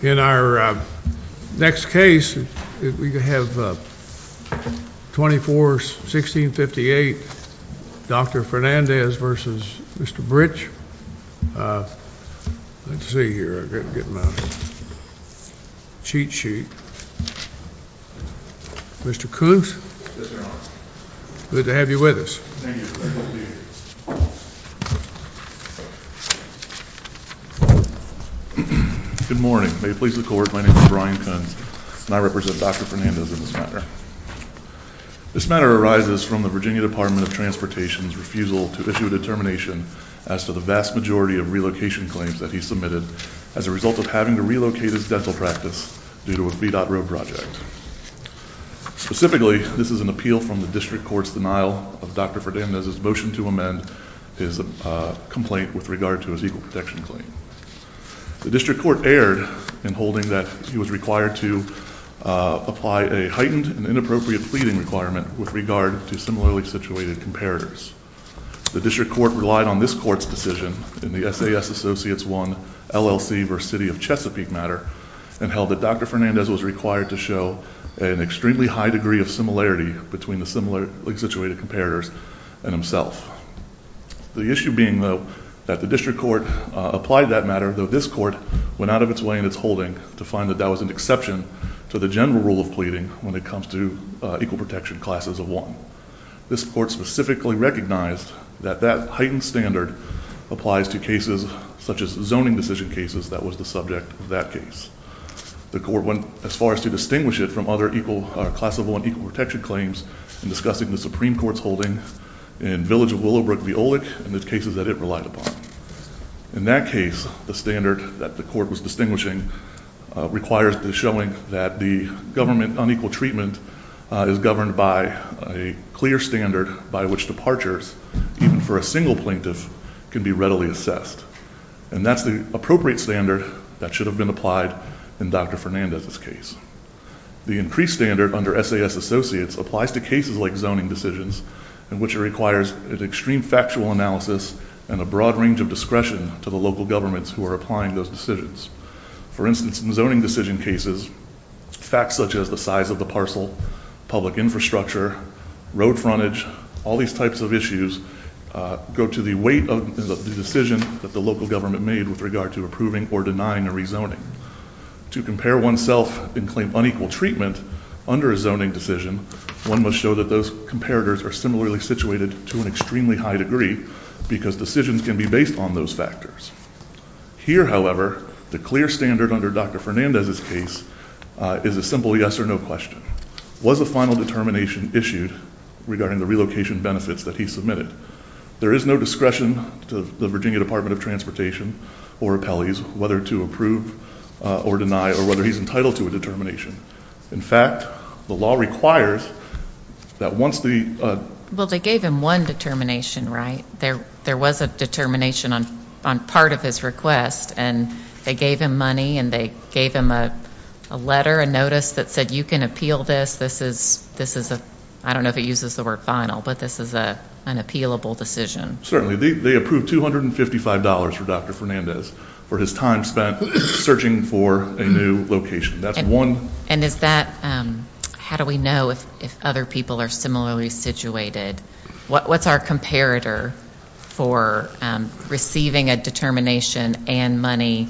In our next case, we have 24-16-58, Dr. Fernandez v. Mr. Brich. Let's see here, I've got to get my cheat sheet. Mr. Kuntz, good to have you with us. Thank you. Good morning. May it please the Court, my name is Brian Kuntz and I represent Dr. Fernandez in this matter. This matter arises from the Virginia Department of Transportation's refusal to issue a determination as to the vast majority of relocation claims that he submitted as a result of having to relocate his dental practice due to a VDOT road project. Specifically, this is an appeal from the District Court's denial of Dr. Fernandez's motion to amend his complaint with regard to his equal protection claim. The District Court erred in holding that he was required to apply a heightened and inappropriate pleading requirement with regard to similarly situated comparators. The District Court relied on this Court's decision in the SAS Associates 1 LLC v. City of Chesapeake matter and held that Dr. Fernandez was required to show an extremely high degree of similarity between the similarly situated comparators and himself. The issue being, though, that the District Court applied that matter, though this Court went out of its way in its holding to find that that was an exception to the general rule of pleading when it comes to equal protection classes of one. This Court specifically recognized that that heightened standard applies to cases such as zoning decision cases that was the subject of that case. The Court went as far as to distinguish it from other class of one equal protection claims in discussing the Supreme Court's holding in Village of Willowbrook v. Olick and the cases that it relied upon. In that case, the standard that the Court was distinguishing requires the showing that the government unequal treatment is governed by a clear standard by which departures, even for a single plaintiff, can be readily assessed. And that's the appropriate standard that should have been applied in Dr. Fernandez's The increased standard under SAS Associates applies to cases like zoning decisions in which it requires an extreme factual analysis and a broad range of discretion to the local governments who are applying those decisions. For instance, in zoning decision cases, facts such as the size of the parcel, public infrastructure, road frontage, all these types of issues go to the weight of the decision that the local government made with regard to approving or denying a rezoning. To compare oneself and claim unequal treatment under a zoning decision, one must show that those comparators are similarly situated to an extremely high degree because decisions can be based on those factors. Here, however, the clear standard under Dr. Fernandez's case is a simple yes or no question. Was a final determination issued regarding the relocation benefits that he submitted? There is no discretion to the Virginia Department of Transportation or appellees whether to approve or deny or whether he's entitled to a determination. In fact, the law requires that once the Well, they gave him one determination, right? There was a determination on part of his request and they gave him money and they gave him a letter, a notice that said you can appeal this. This is, I don't know if it uses the word final, but this is an appealable decision. Certainly. They approved $255 for Dr. Fernandez for his time spent searching for a new location. That's one. And is that, how do we know if other people are similarly situated? What's our comparator for receiving a determination and money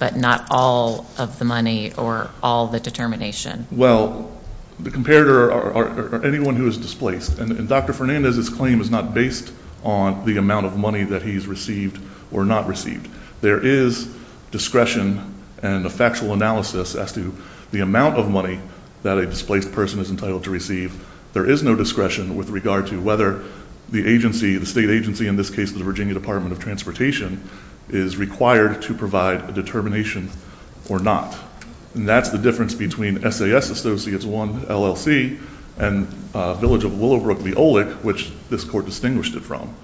but not all of the money or all the determination? Well, the comparator are anyone who is displaced. And Dr. Fernandez's claim is not based on the amount of money that he's received or not received. There is discretion and a factual analysis as to the amount of money that a displaced person is entitled to receive. There is no discretion with regard to whether the agency, the state agency, in this case, the Virginia Department of Transportation, is required to provide a determination or not. And that's the difference between SAS Associates 1 LLC and Village of Willowbrook-Leolic, which this court distinguished it from.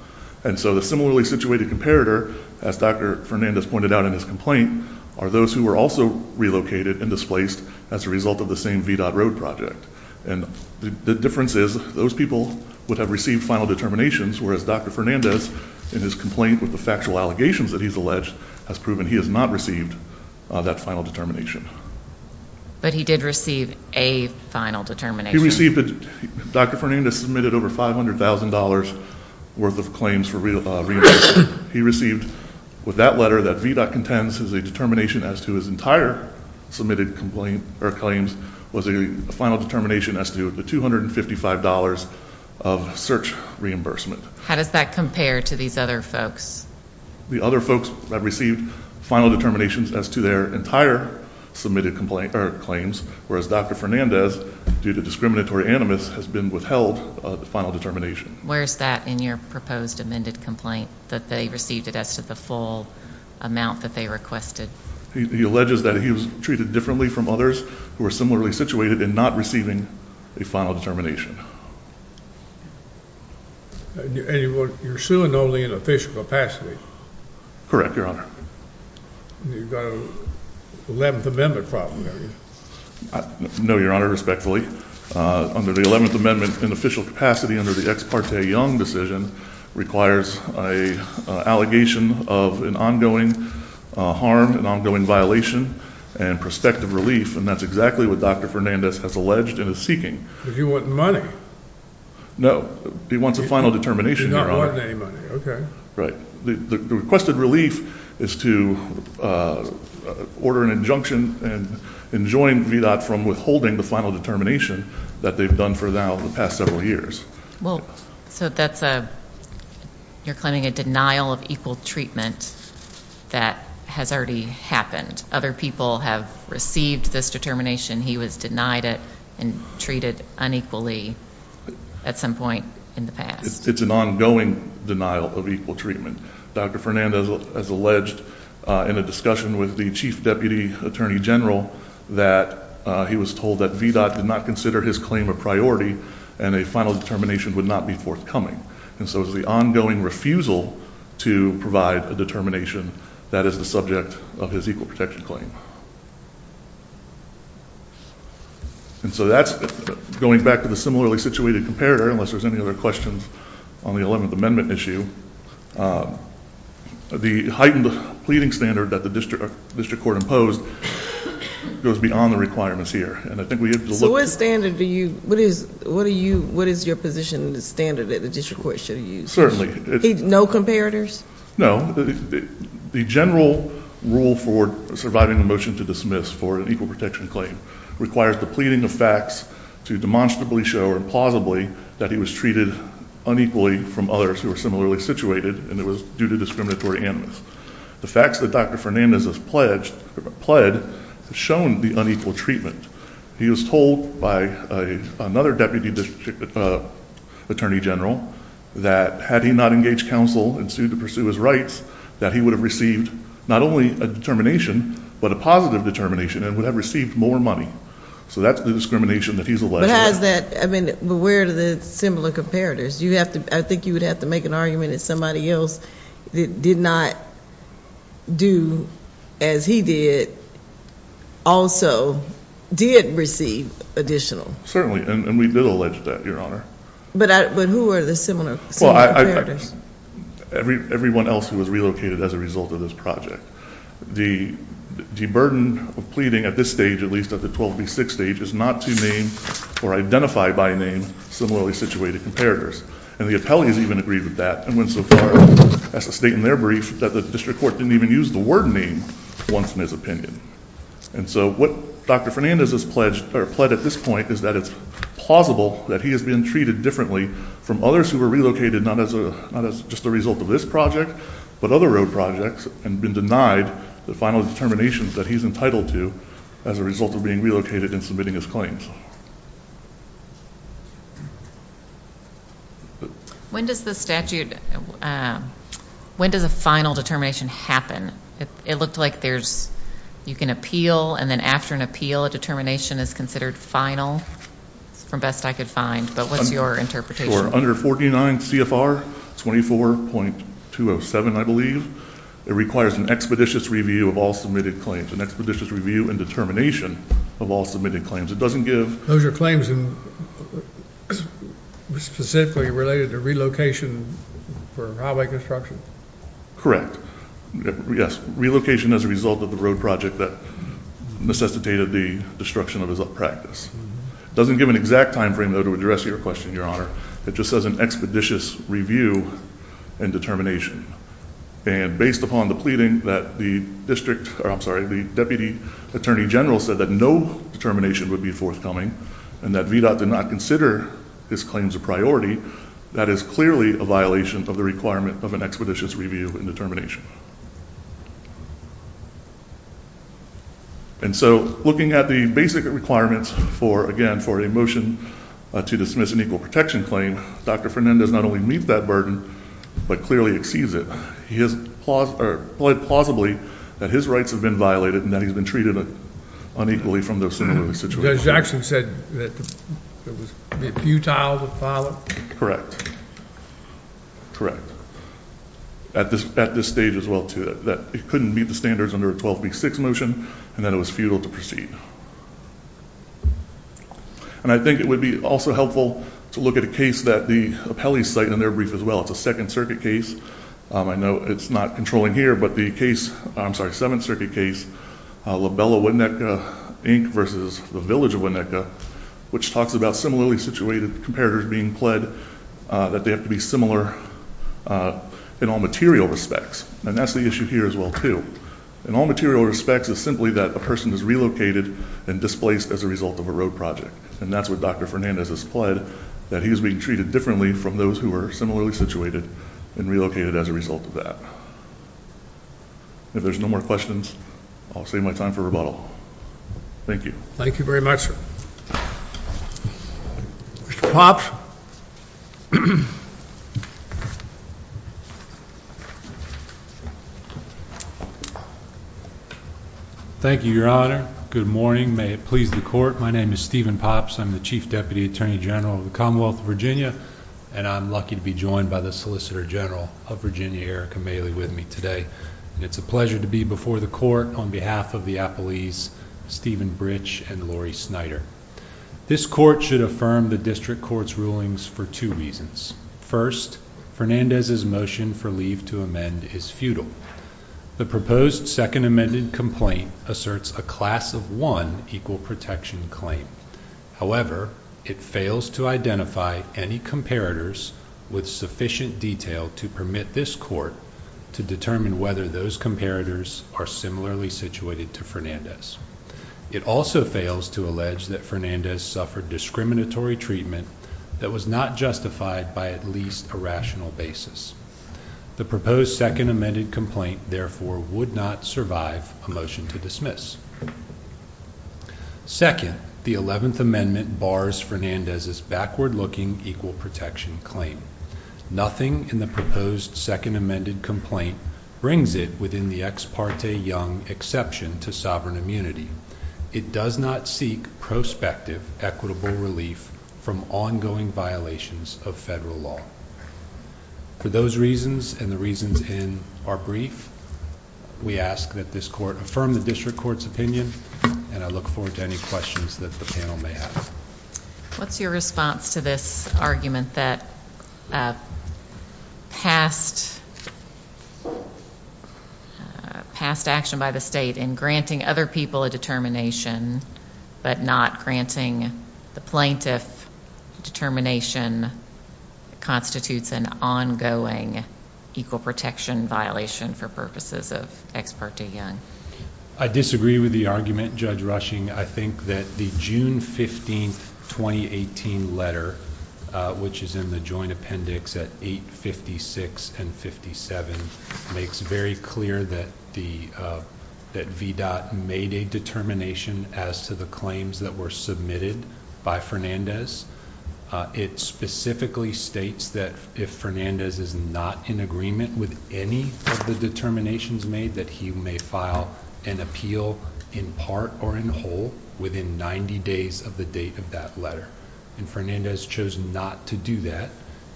And so the similarly situated comparator, as Dr. Fernandez pointed out in his complaint, are those who were also relocated and displaced as a result of the same VDOT road project. And the difference is those people would have received final determinations, whereas Dr. Fernandez, in his complaint with the factual allegations that he's alleged, has proven he has not received that final determination. But he did receive a final determination. He received it. Dr. Fernandez submitted over $500,000 worth of claims for reimbursement. He received with that letter that VDOT contends is a determination as to his entire submitted complaint or claims was a final determination as to the $255 of search reimbursement. How does that compare to these other folks? The other folks have received final determinations as to their entire submitted claims, whereas Dr. Fernandez, due to discriminatory animus, has been withheld the final determination. Where is that in your proposed amended complaint, that they received it as to the full amount that they requested? He alleges that he was treated differently from others who are similarly situated in not receiving a final determination. And you're suing only in official capacity? Correct, Your Honor. You've got an 11th Amendment problem, have you? No, Your Honor, respectfully. Under the 11th Amendment, in official capacity under the Ex Parte Young decision, requires an allegation of an ongoing harm, an ongoing violation, and prospective relief, and that's exactly what Dr. Fernandez has alleged and is seeking. But you want money. No, he wants a final determination, Your Honor. He does not want any money, okay. Right. The requested relief is to order an injunction and enjoin VDOT from withholding the final determination that they've done for now the past several years. Well, so that's a, you're claiming a denial of equal treatment that has already happened. Other people have received this determination. He was denied it and treated unequally at some point in the past. It's an ongoing denial of equal treatment. Dr. Fernandez has alleged in a discussion with the Chief Deputy Attorney General that he was told that VDOT did not consider his claim a priority and a final determination would not be forthcoming. And so it's the ongoing refusal to provide a determination that is the subject of his equal protection claim. And so that's, going back to the similarly situated comparator, unless there's any other questions on the Eleventh Amendment issue, the heightened pleading standard that the district court imposed goes beyond the requirements here. And I think we have to look. So what standard do you, what is, what are you, what is your position in the standard that the district court should have used? Certainly. No comparators? No. The general rule for surviving a motion to dismiss for an equal protection claim requires the pleading of facts to demonstrably show or plausibly that he was treated unequally from others who are similarly situated and it was due to discriminatory animus. The facts that Dr. Fernandez has pledged, pled, have shown the unequal treatment. He was told by another deputy attorney general that had he not engaged counsel and sued to pursue his rights, that he would have received not only a determination but a positive determination and would have received more money. So that's the discrimination that he's alleged. But has that, I mean, but where are the similar comparators? You have to, I think you would have to make an argument that somebody else that did not do as he did also did receive additional. Certainly. And we did allege that, Your Honor. But who are the similar comparators? Everyone else who was relocated as a result of this project. The burden of pleading at this stage, at least at the 12B6 stage, is not to name or identify by name similarly situated comparators. And the appellees even agreed with that and went so far as to state in their brief that the district court didn't even use the word name once in his opinion. And so what Dr. Fernandez has pledged, or pled at this point, is that it's plausible that he has been treated differently from others who were relocated, not as just a result of this project but other road projects, and been denied the final determinations that he's entitled to as a result of being relocated and submitting his claims. When does the statute, when does a final determination happen? It looked like there's, you can appeal, and then after an appeal a determination is considered final, from best I could find. But what's your interpretation? Under 49 CFR 24.207, I believe, it requires an expeditious review of all submitted claims, an expeditious review and determination of all submitted claims. It doesn't give- Those are claims specifically related to relocation for highway construction? Correct. Yes, relocation as a result of the road project that necessitated the destruction of his practice. It doesn't give an exact time frame, though, to address your question, Your Honor. It just says an expeditious review and determination. And based upon the pleading that the district, or I'm sorry, the Deputy Attorney General said that no determination would be forthcoming, and that VDOT did not consider his claims a priority, that is clearly a violation of the requirement of an expeditious review and determination. And so, looking at the basic requirements for, again, for a motion to dismiss an equal protection claim, Dr. Fernandez not only meets that burden, but clearly exceeds it. He has pled plausibly that his rights have been violated and that he's been treated unequally from those similar situations. Judge Jackson said that it was futile to file it? Correct. Correct. At this stage as well, too, that it couldn't meet the standards under a 12B6 motion, and that it was futile to proceed. And I think it would be also helpful to look at a case that the appellees cite in their brief as well. It's a Second Circuit case. I know it's not controlling here, but the case, I'm sorry, Seventh Circuit case, LaBella-Winneka, Inc., versus the Village of Winneka, which talks about similarly situated comparators being pled that they have to be similar in all material respects. And that's the issue here as well, too. In all material respects, it's simply that a person is relocated and displaced as a result of a road project. And that's what Dr. Fernandez has pled, that he is being treated differently from those who are similarly situated and relocated as a result of that. If there's no more questions, I'll save my time for rebuttal. Thank you. Thank you very much, sir. Mr. Pops. Thank you, Your Honor. Good morning. May it please the Court. My name is Stephen Pops. I'm the Chief Deputy Attorney General of the Commonwealth of Virginia, and I'm lucky to be joined by the Solicitor General of Virginia, Erica Maley, with me today. It's a pleasure to be before the Court on behalf of the appellees, Stephen Britsch and Lori Snyder. This Court should affirm the District Court's rulings for two reasons. First, Fernandez's motion for leave to amend is futile. The proposed second amended complaint asserts a class of one equal protection claim. However, it fails to identify any comparators with sufficient detail to permit this Court to determine whether those comparators are similarly situated to Fernandez. It also fails to allege that Fernandez suffered discriminatory treatment that was not justified by at least a rational basis. The proposed second amended complaint, therefore, would not survive a motion to dismiss. Second, the 11th Amendment bars Fernandez's backward looking equal protection claim. Nothing in the proposed second amended complaint brings it within the ex parte young exception to sovereign immunity. It does not seek prospective equitable relief from ongoing violations of federal law. For those reasons and the reasons in our brief, we ask that this Court affirm the District Court's opinion, and I look forward to any questions that the panel may have. What's your response to this argument that past action by the state in granting other people a determination but not granting the plaintiff determination constitutes an ongoing equal protection violation for purposes of ex parte young? I disagree with the argument, Judge Rushing. I think that the June 15, 2018 letter, which is in the joint appendix at 856 and 57, makes very clear that VDOT made a determination as to the claims that were submitted by Fernandez. It specifically states that if Fernandez is not in agreement with any of the determinations made, that he may file an appeal in part or in whole within 90 days of the date of that letter. Fernandez chose not to do that.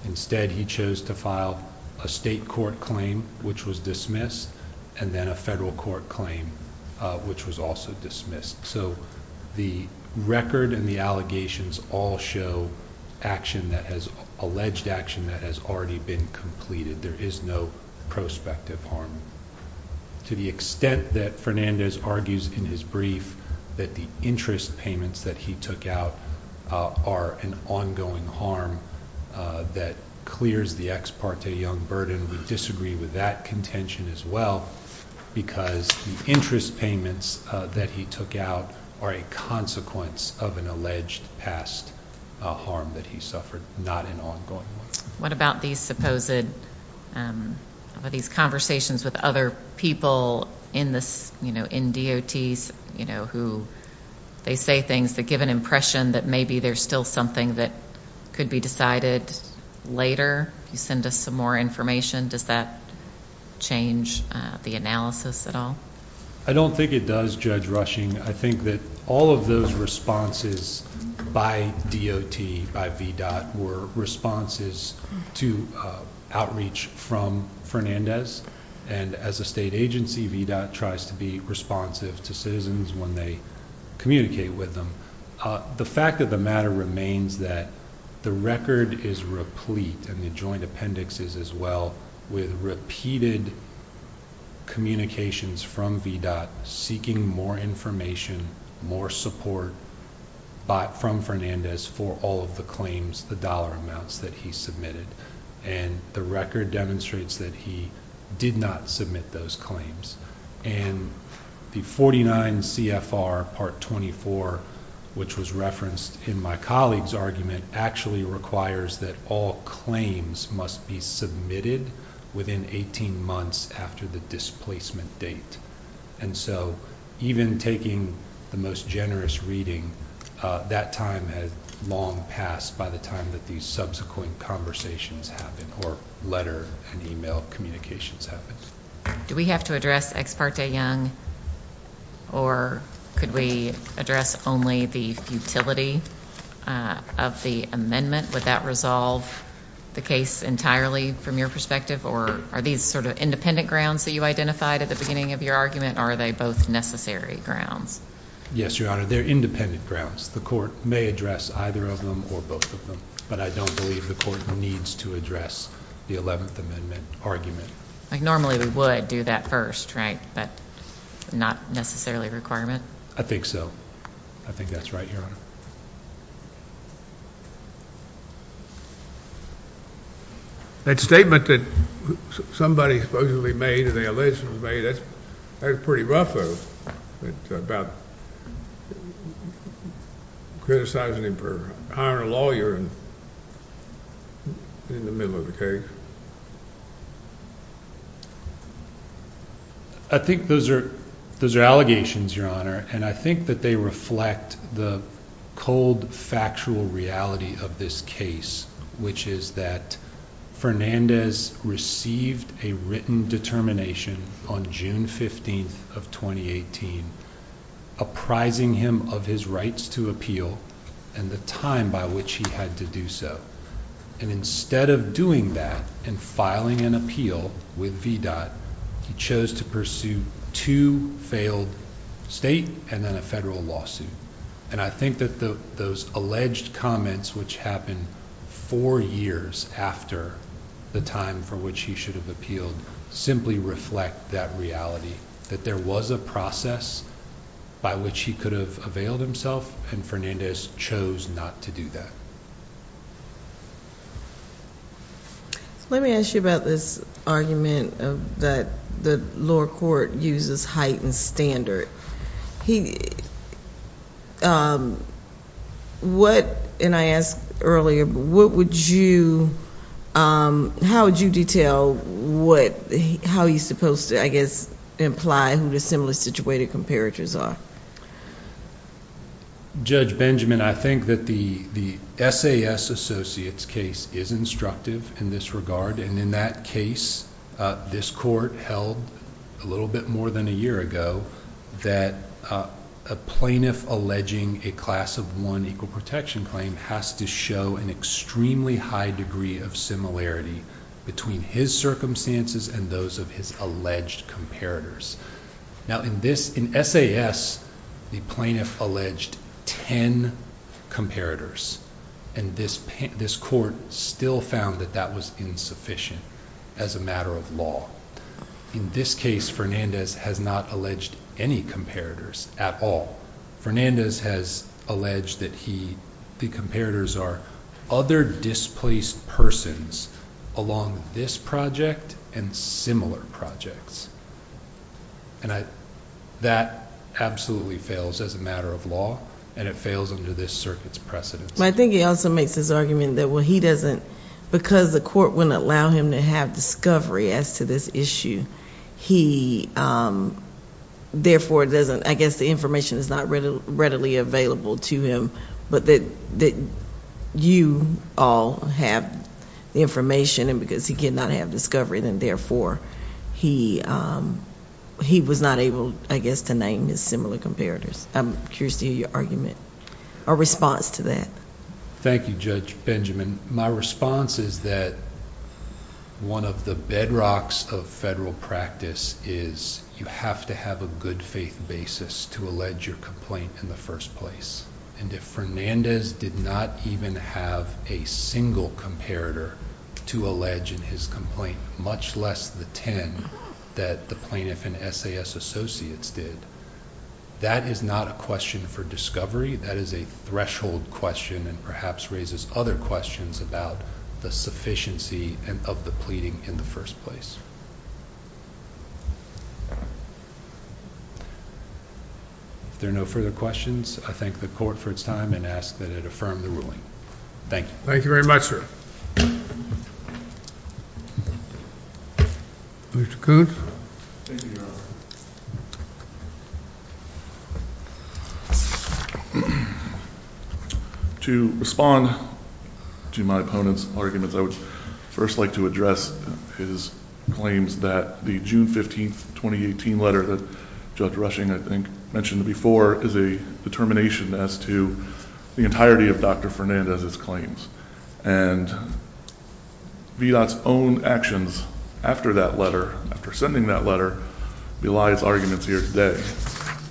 Instead, he chose to file a state court claim, which was dismissed, and then a federal court claim, which was also dismissed. So the record and the allegations all show alleged action that has already been completed. There is no prospective harm. To the extent that Fernandez argues in his brief that the interest payments that he took out are an ongoing harm that clears the ex parte young burden, we disagree with that contention as well because the interest payments that he took out are a consequence of an alleged past harm that he suffered, not an ongoing one. What about these supposed conversations with other people in DOTs, who they say things that give an impression that maybe there's still something that could be decided later? You send us some more information. Does that change the analysis at all? I don't think it does, Judge Rushing. I think that all of those responses by DOT, by VDOT, were responses to outreach from Fernandez, and as a state agency, VDOT tries to be responsive to citizens when they communicate with them. The fact of the matter remains that the record is replete, and the joint appendix is as well, with repeated communications from VDOT seeking more information, more support from Fernandez for all of the claims, the dollar amounts that he submitted, and the record demonstrates that he did not submit those claims. And the 49 CFR Part 24, which was referenced in my colleague's argument, actually requires that all claims must be submitted within 18 months after the displacement date. And so even taking the most generous reading, that time has long passed by the time that these subsequent conversations happen or letter and e-mail communications happen. Do we have to address Ex parte Young, or could we address only the futility of the amendment? Would that resolve the case entirely from your perspective, or are these sort of independent grounds that you identified at the beginning of your argument, or are they both necessary grounds? Yes, Your Honor, they're independent grounds. The court may address either of them or both of them, but I don't believe the court needs to address the 11th Amendment argument. Like normally we would do that first, right, but not necessarily a requirement? I think so. I think that's right, Your Honor. That statement that somebody supposedly made and they allegedly made, that's pretty rough, though, about criticizing him for hiring a lawyer in the middle of the case. I think those are allegations, Your Honor, and I think that they reflect the cold, factual reality of this case, which is that Fernandez received a written determination on June 15th of 2018 apprising him of his rights to appeal and the time by which he had to do so. Instead of doing that and filing an appeal with VDOT, he chose to pursue two failed state and then a federal lawsuit. I think that those alleged comments, which happened four years after the time for which he should have appealed, simply reflect that reality, that there was a process by which he could have availed himself, and Fernandez chose not to do that. Let me ask you about this argument that the lower court uses heightened standard. He... What, and I asked earlier, what would you... How would you detail how he's supposed to, I guess, imply who the similar situated comparators are? Judge Benjamin, I think that the SAS Associates case is instructive in this regard, and in that case, this court held a little bit more than a year ago that a plaintiff alleging a class of one equal protection claim has to show an extremely high degree of similarity between his circumstances and those of his alleged comparators. Now, in this, in SAS, the plaintiff alleged ten comparators, and this court still found that that was insufficient as a matter of law. In this case, Fernandez has not alleged any comparators at all. Fernandez has alleged that he... the comparators are other displaced persons along this project and similar projects, and that absolutely fails as a matter of law, and it fails under this circuit's precedence. But I think he also makes this argument that, well, he doesn't... He, therefore, doesn't... I guess the information is not readily available to him, but that you all have the information, and because he cannot have discovery, then, therefore, he was not able, I guess, to name his similar comparators. I'm curious to hear your argument or response to that. Thank you, Judge Benjamin. My response is that one of the bedrocks of federal practice is you have to have a good faith basis to allege your complaint in the first place. And if Fernandez did not even have a single comparator to allege in his complaint, much less the ten that the plaintiff and SAS associates did, that is not a question for discovery. That is a threshold question and perhaps raises other questions about the sufficiency of the pleading in the first place. If there are no further questions, I thank the Court for its time and ask that it affirm the ruling. Thank you. Thank you very much, sir. Mr. Coon? Thank you, Your Honor. To respond to my opponent's arguments, I would first like to address his claims that the June 15, 2018, letter that Judge Rushing, I think, mentioned before, is a determination as to the entirety of Dr. Fernandez's claims. And VDOT's own actions after that letter, after sending that letter, belies arguments here today.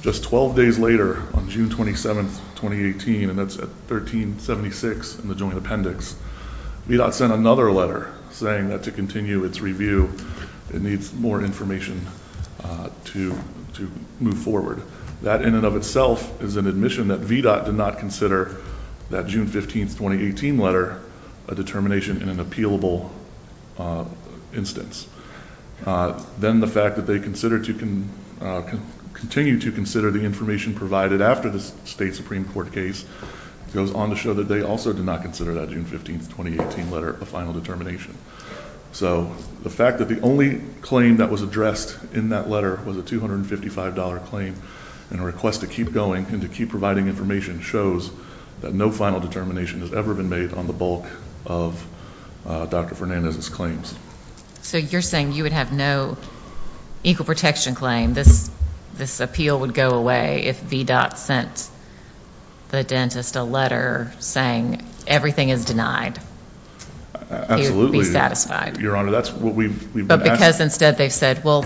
Just 12 days later, on June 27, 2018, and that's at 1376 in the joint appendix, VDOT sent another letter saying that to continue its review, it needs more information to move forward. That in and of itself is an admission that VDOT did not consider that June 15, 2018, letter a determination in an appealable instance. Then the fact that they continue to consider the information provided after the State Supreme Court case goes on to show that they also did not consider that June 15, 2018, letter a final determination. So the fact that the only claim that was addressed in that letter was a $255 claim and a request to keep going and to keep providing information shows that no final determination has ever been made on the bulk of Dr. Fernandez's claims. So you're saying you would have no equal protection claim. This appeal would go away if VDOT sent the dentist a letter saying everything is denied. Absolutely. Your Honor, that's what we've been asking. But because instead they've said, well,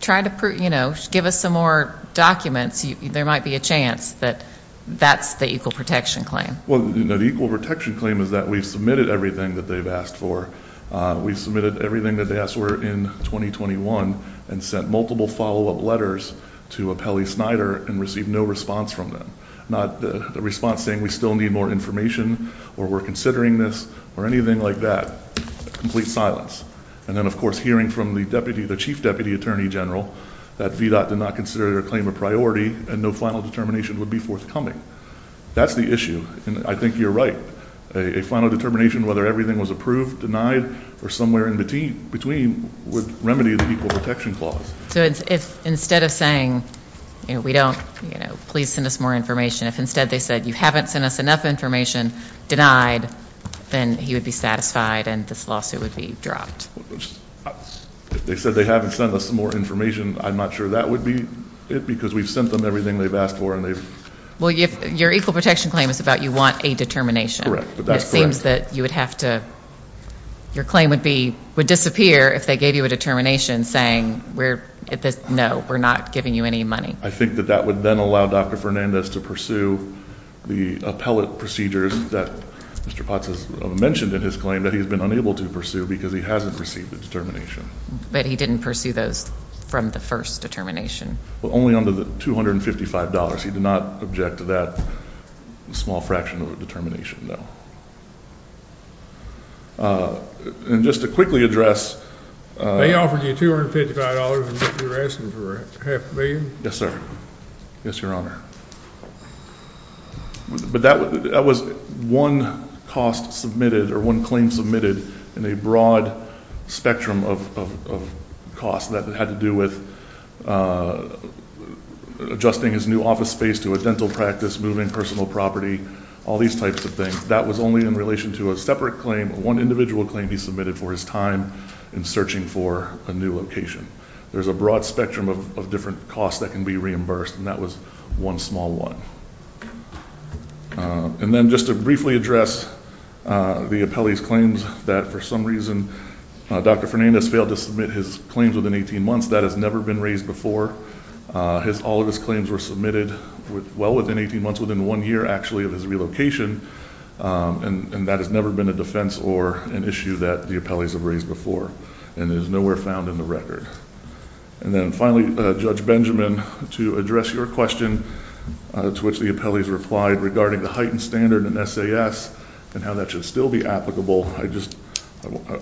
try to, you know, give us some more documents. There might be a chance that that's the equal protection claim. Well, you know, the equal protection claim is that we've submitted everything that they've asked for. We've submitted everything that they asked for in 2021 and sent multiple follow-up letters to Apelli Snyder and received no response from them. Not the response saying we still need more information or we're considering this or anything like that. Complete silence. And then, of course, hearing from the deputy, the chief deputy attorney general, that VDOT did not consider their claim a priority and no final determination would be forthcoming. That's the issue. And I think you're right. A final determination whether everything was approved, denied, or somewhere in between would remedy the equal protection clause. So if instead of saying, you know, we don't, you know, please send us more information, if instead they said you haven't sent us enough information, denied, then he would be satisfied and this lawsuit would be dropped. If they said they haven't sent us more information, I'm not sure that would be it because we've sent them everything they've asked for and they've. Well, your equal protection claim is about you want a determination. It seems that you would have to, your claim would be, would disappear if they gave you a determination saying we're, no, we're not giving you any money. I think that that would then allow Dr. Fernandez to pursue the appellate procedures that Mr. Potts has mentioned in his claim that he's been unable to pursue because he hasn't received the determination. But he didn't pursue those from the first determination. Well, only under the $255. He did not object to that small fraction of a determination, no. And just to quickly address. They offered you $255 and you're asking for half a million? Yes, sir. Yes, Your Honor. But that was one cost submitted or one claim submitted in a broad spectrum of costs that had to do with adjusting his new office space to a dental practice, moving personal property, all these types of things. That was only in relation to a separate claim, one individual claim he submitted for his time in searching for a new location. There's a broad spectrum of different costs that can be reimbursed. And that was one small one. And then just to briefly address the appellee's claims that for some reason, Dr. Fernandez failed to submit his claims within 18 months. That has never been raised before. All of his claims were submitted well within 18 months, within one year actually of his relocation. And that has never been a defense or an issue that the appellees have raised before. And it is nowhere found in the record. And then finally, Judge Benjamin, to address your question to which the appellees replied regarding the heightened standard in SAS and how that should still be applicable,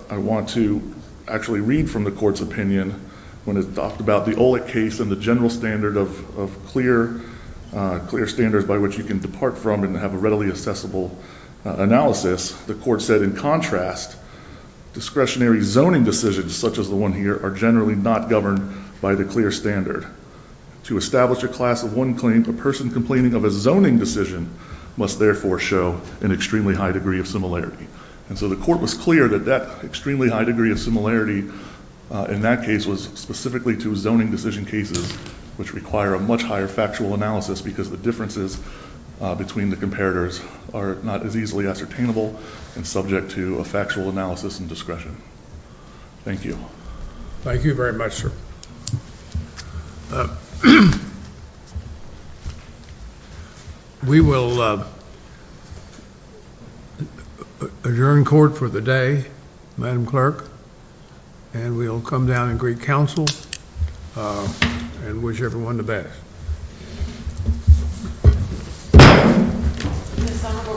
I want to actually read from the court's opinion when it talked about the OLEC case and the general standard of clear standards by which you can depart from and have a readily accessible analysis. The court said, in contrast, discretionary zoning decisions such as the one here are generally not governed by the clear standard. To establish a class of one claim, a person complaining of a zoning decision must therefore show an extremely high degree of similarity. And so the court was clear that that extremely high degree of similarity in that case was specifically to zoning decision cases which require a much higher factual analysis because the differences between the comparators are not as easily ascertainable and subject to a factual analysis and discretion. Thank you. Thank you very much, sir. We will adjourn court for the day. Madam Clerk, and we will come down and greet counsel and wish everyone the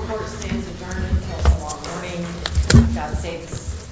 Court stands adjourned until tomorrow morning. That states honorable report.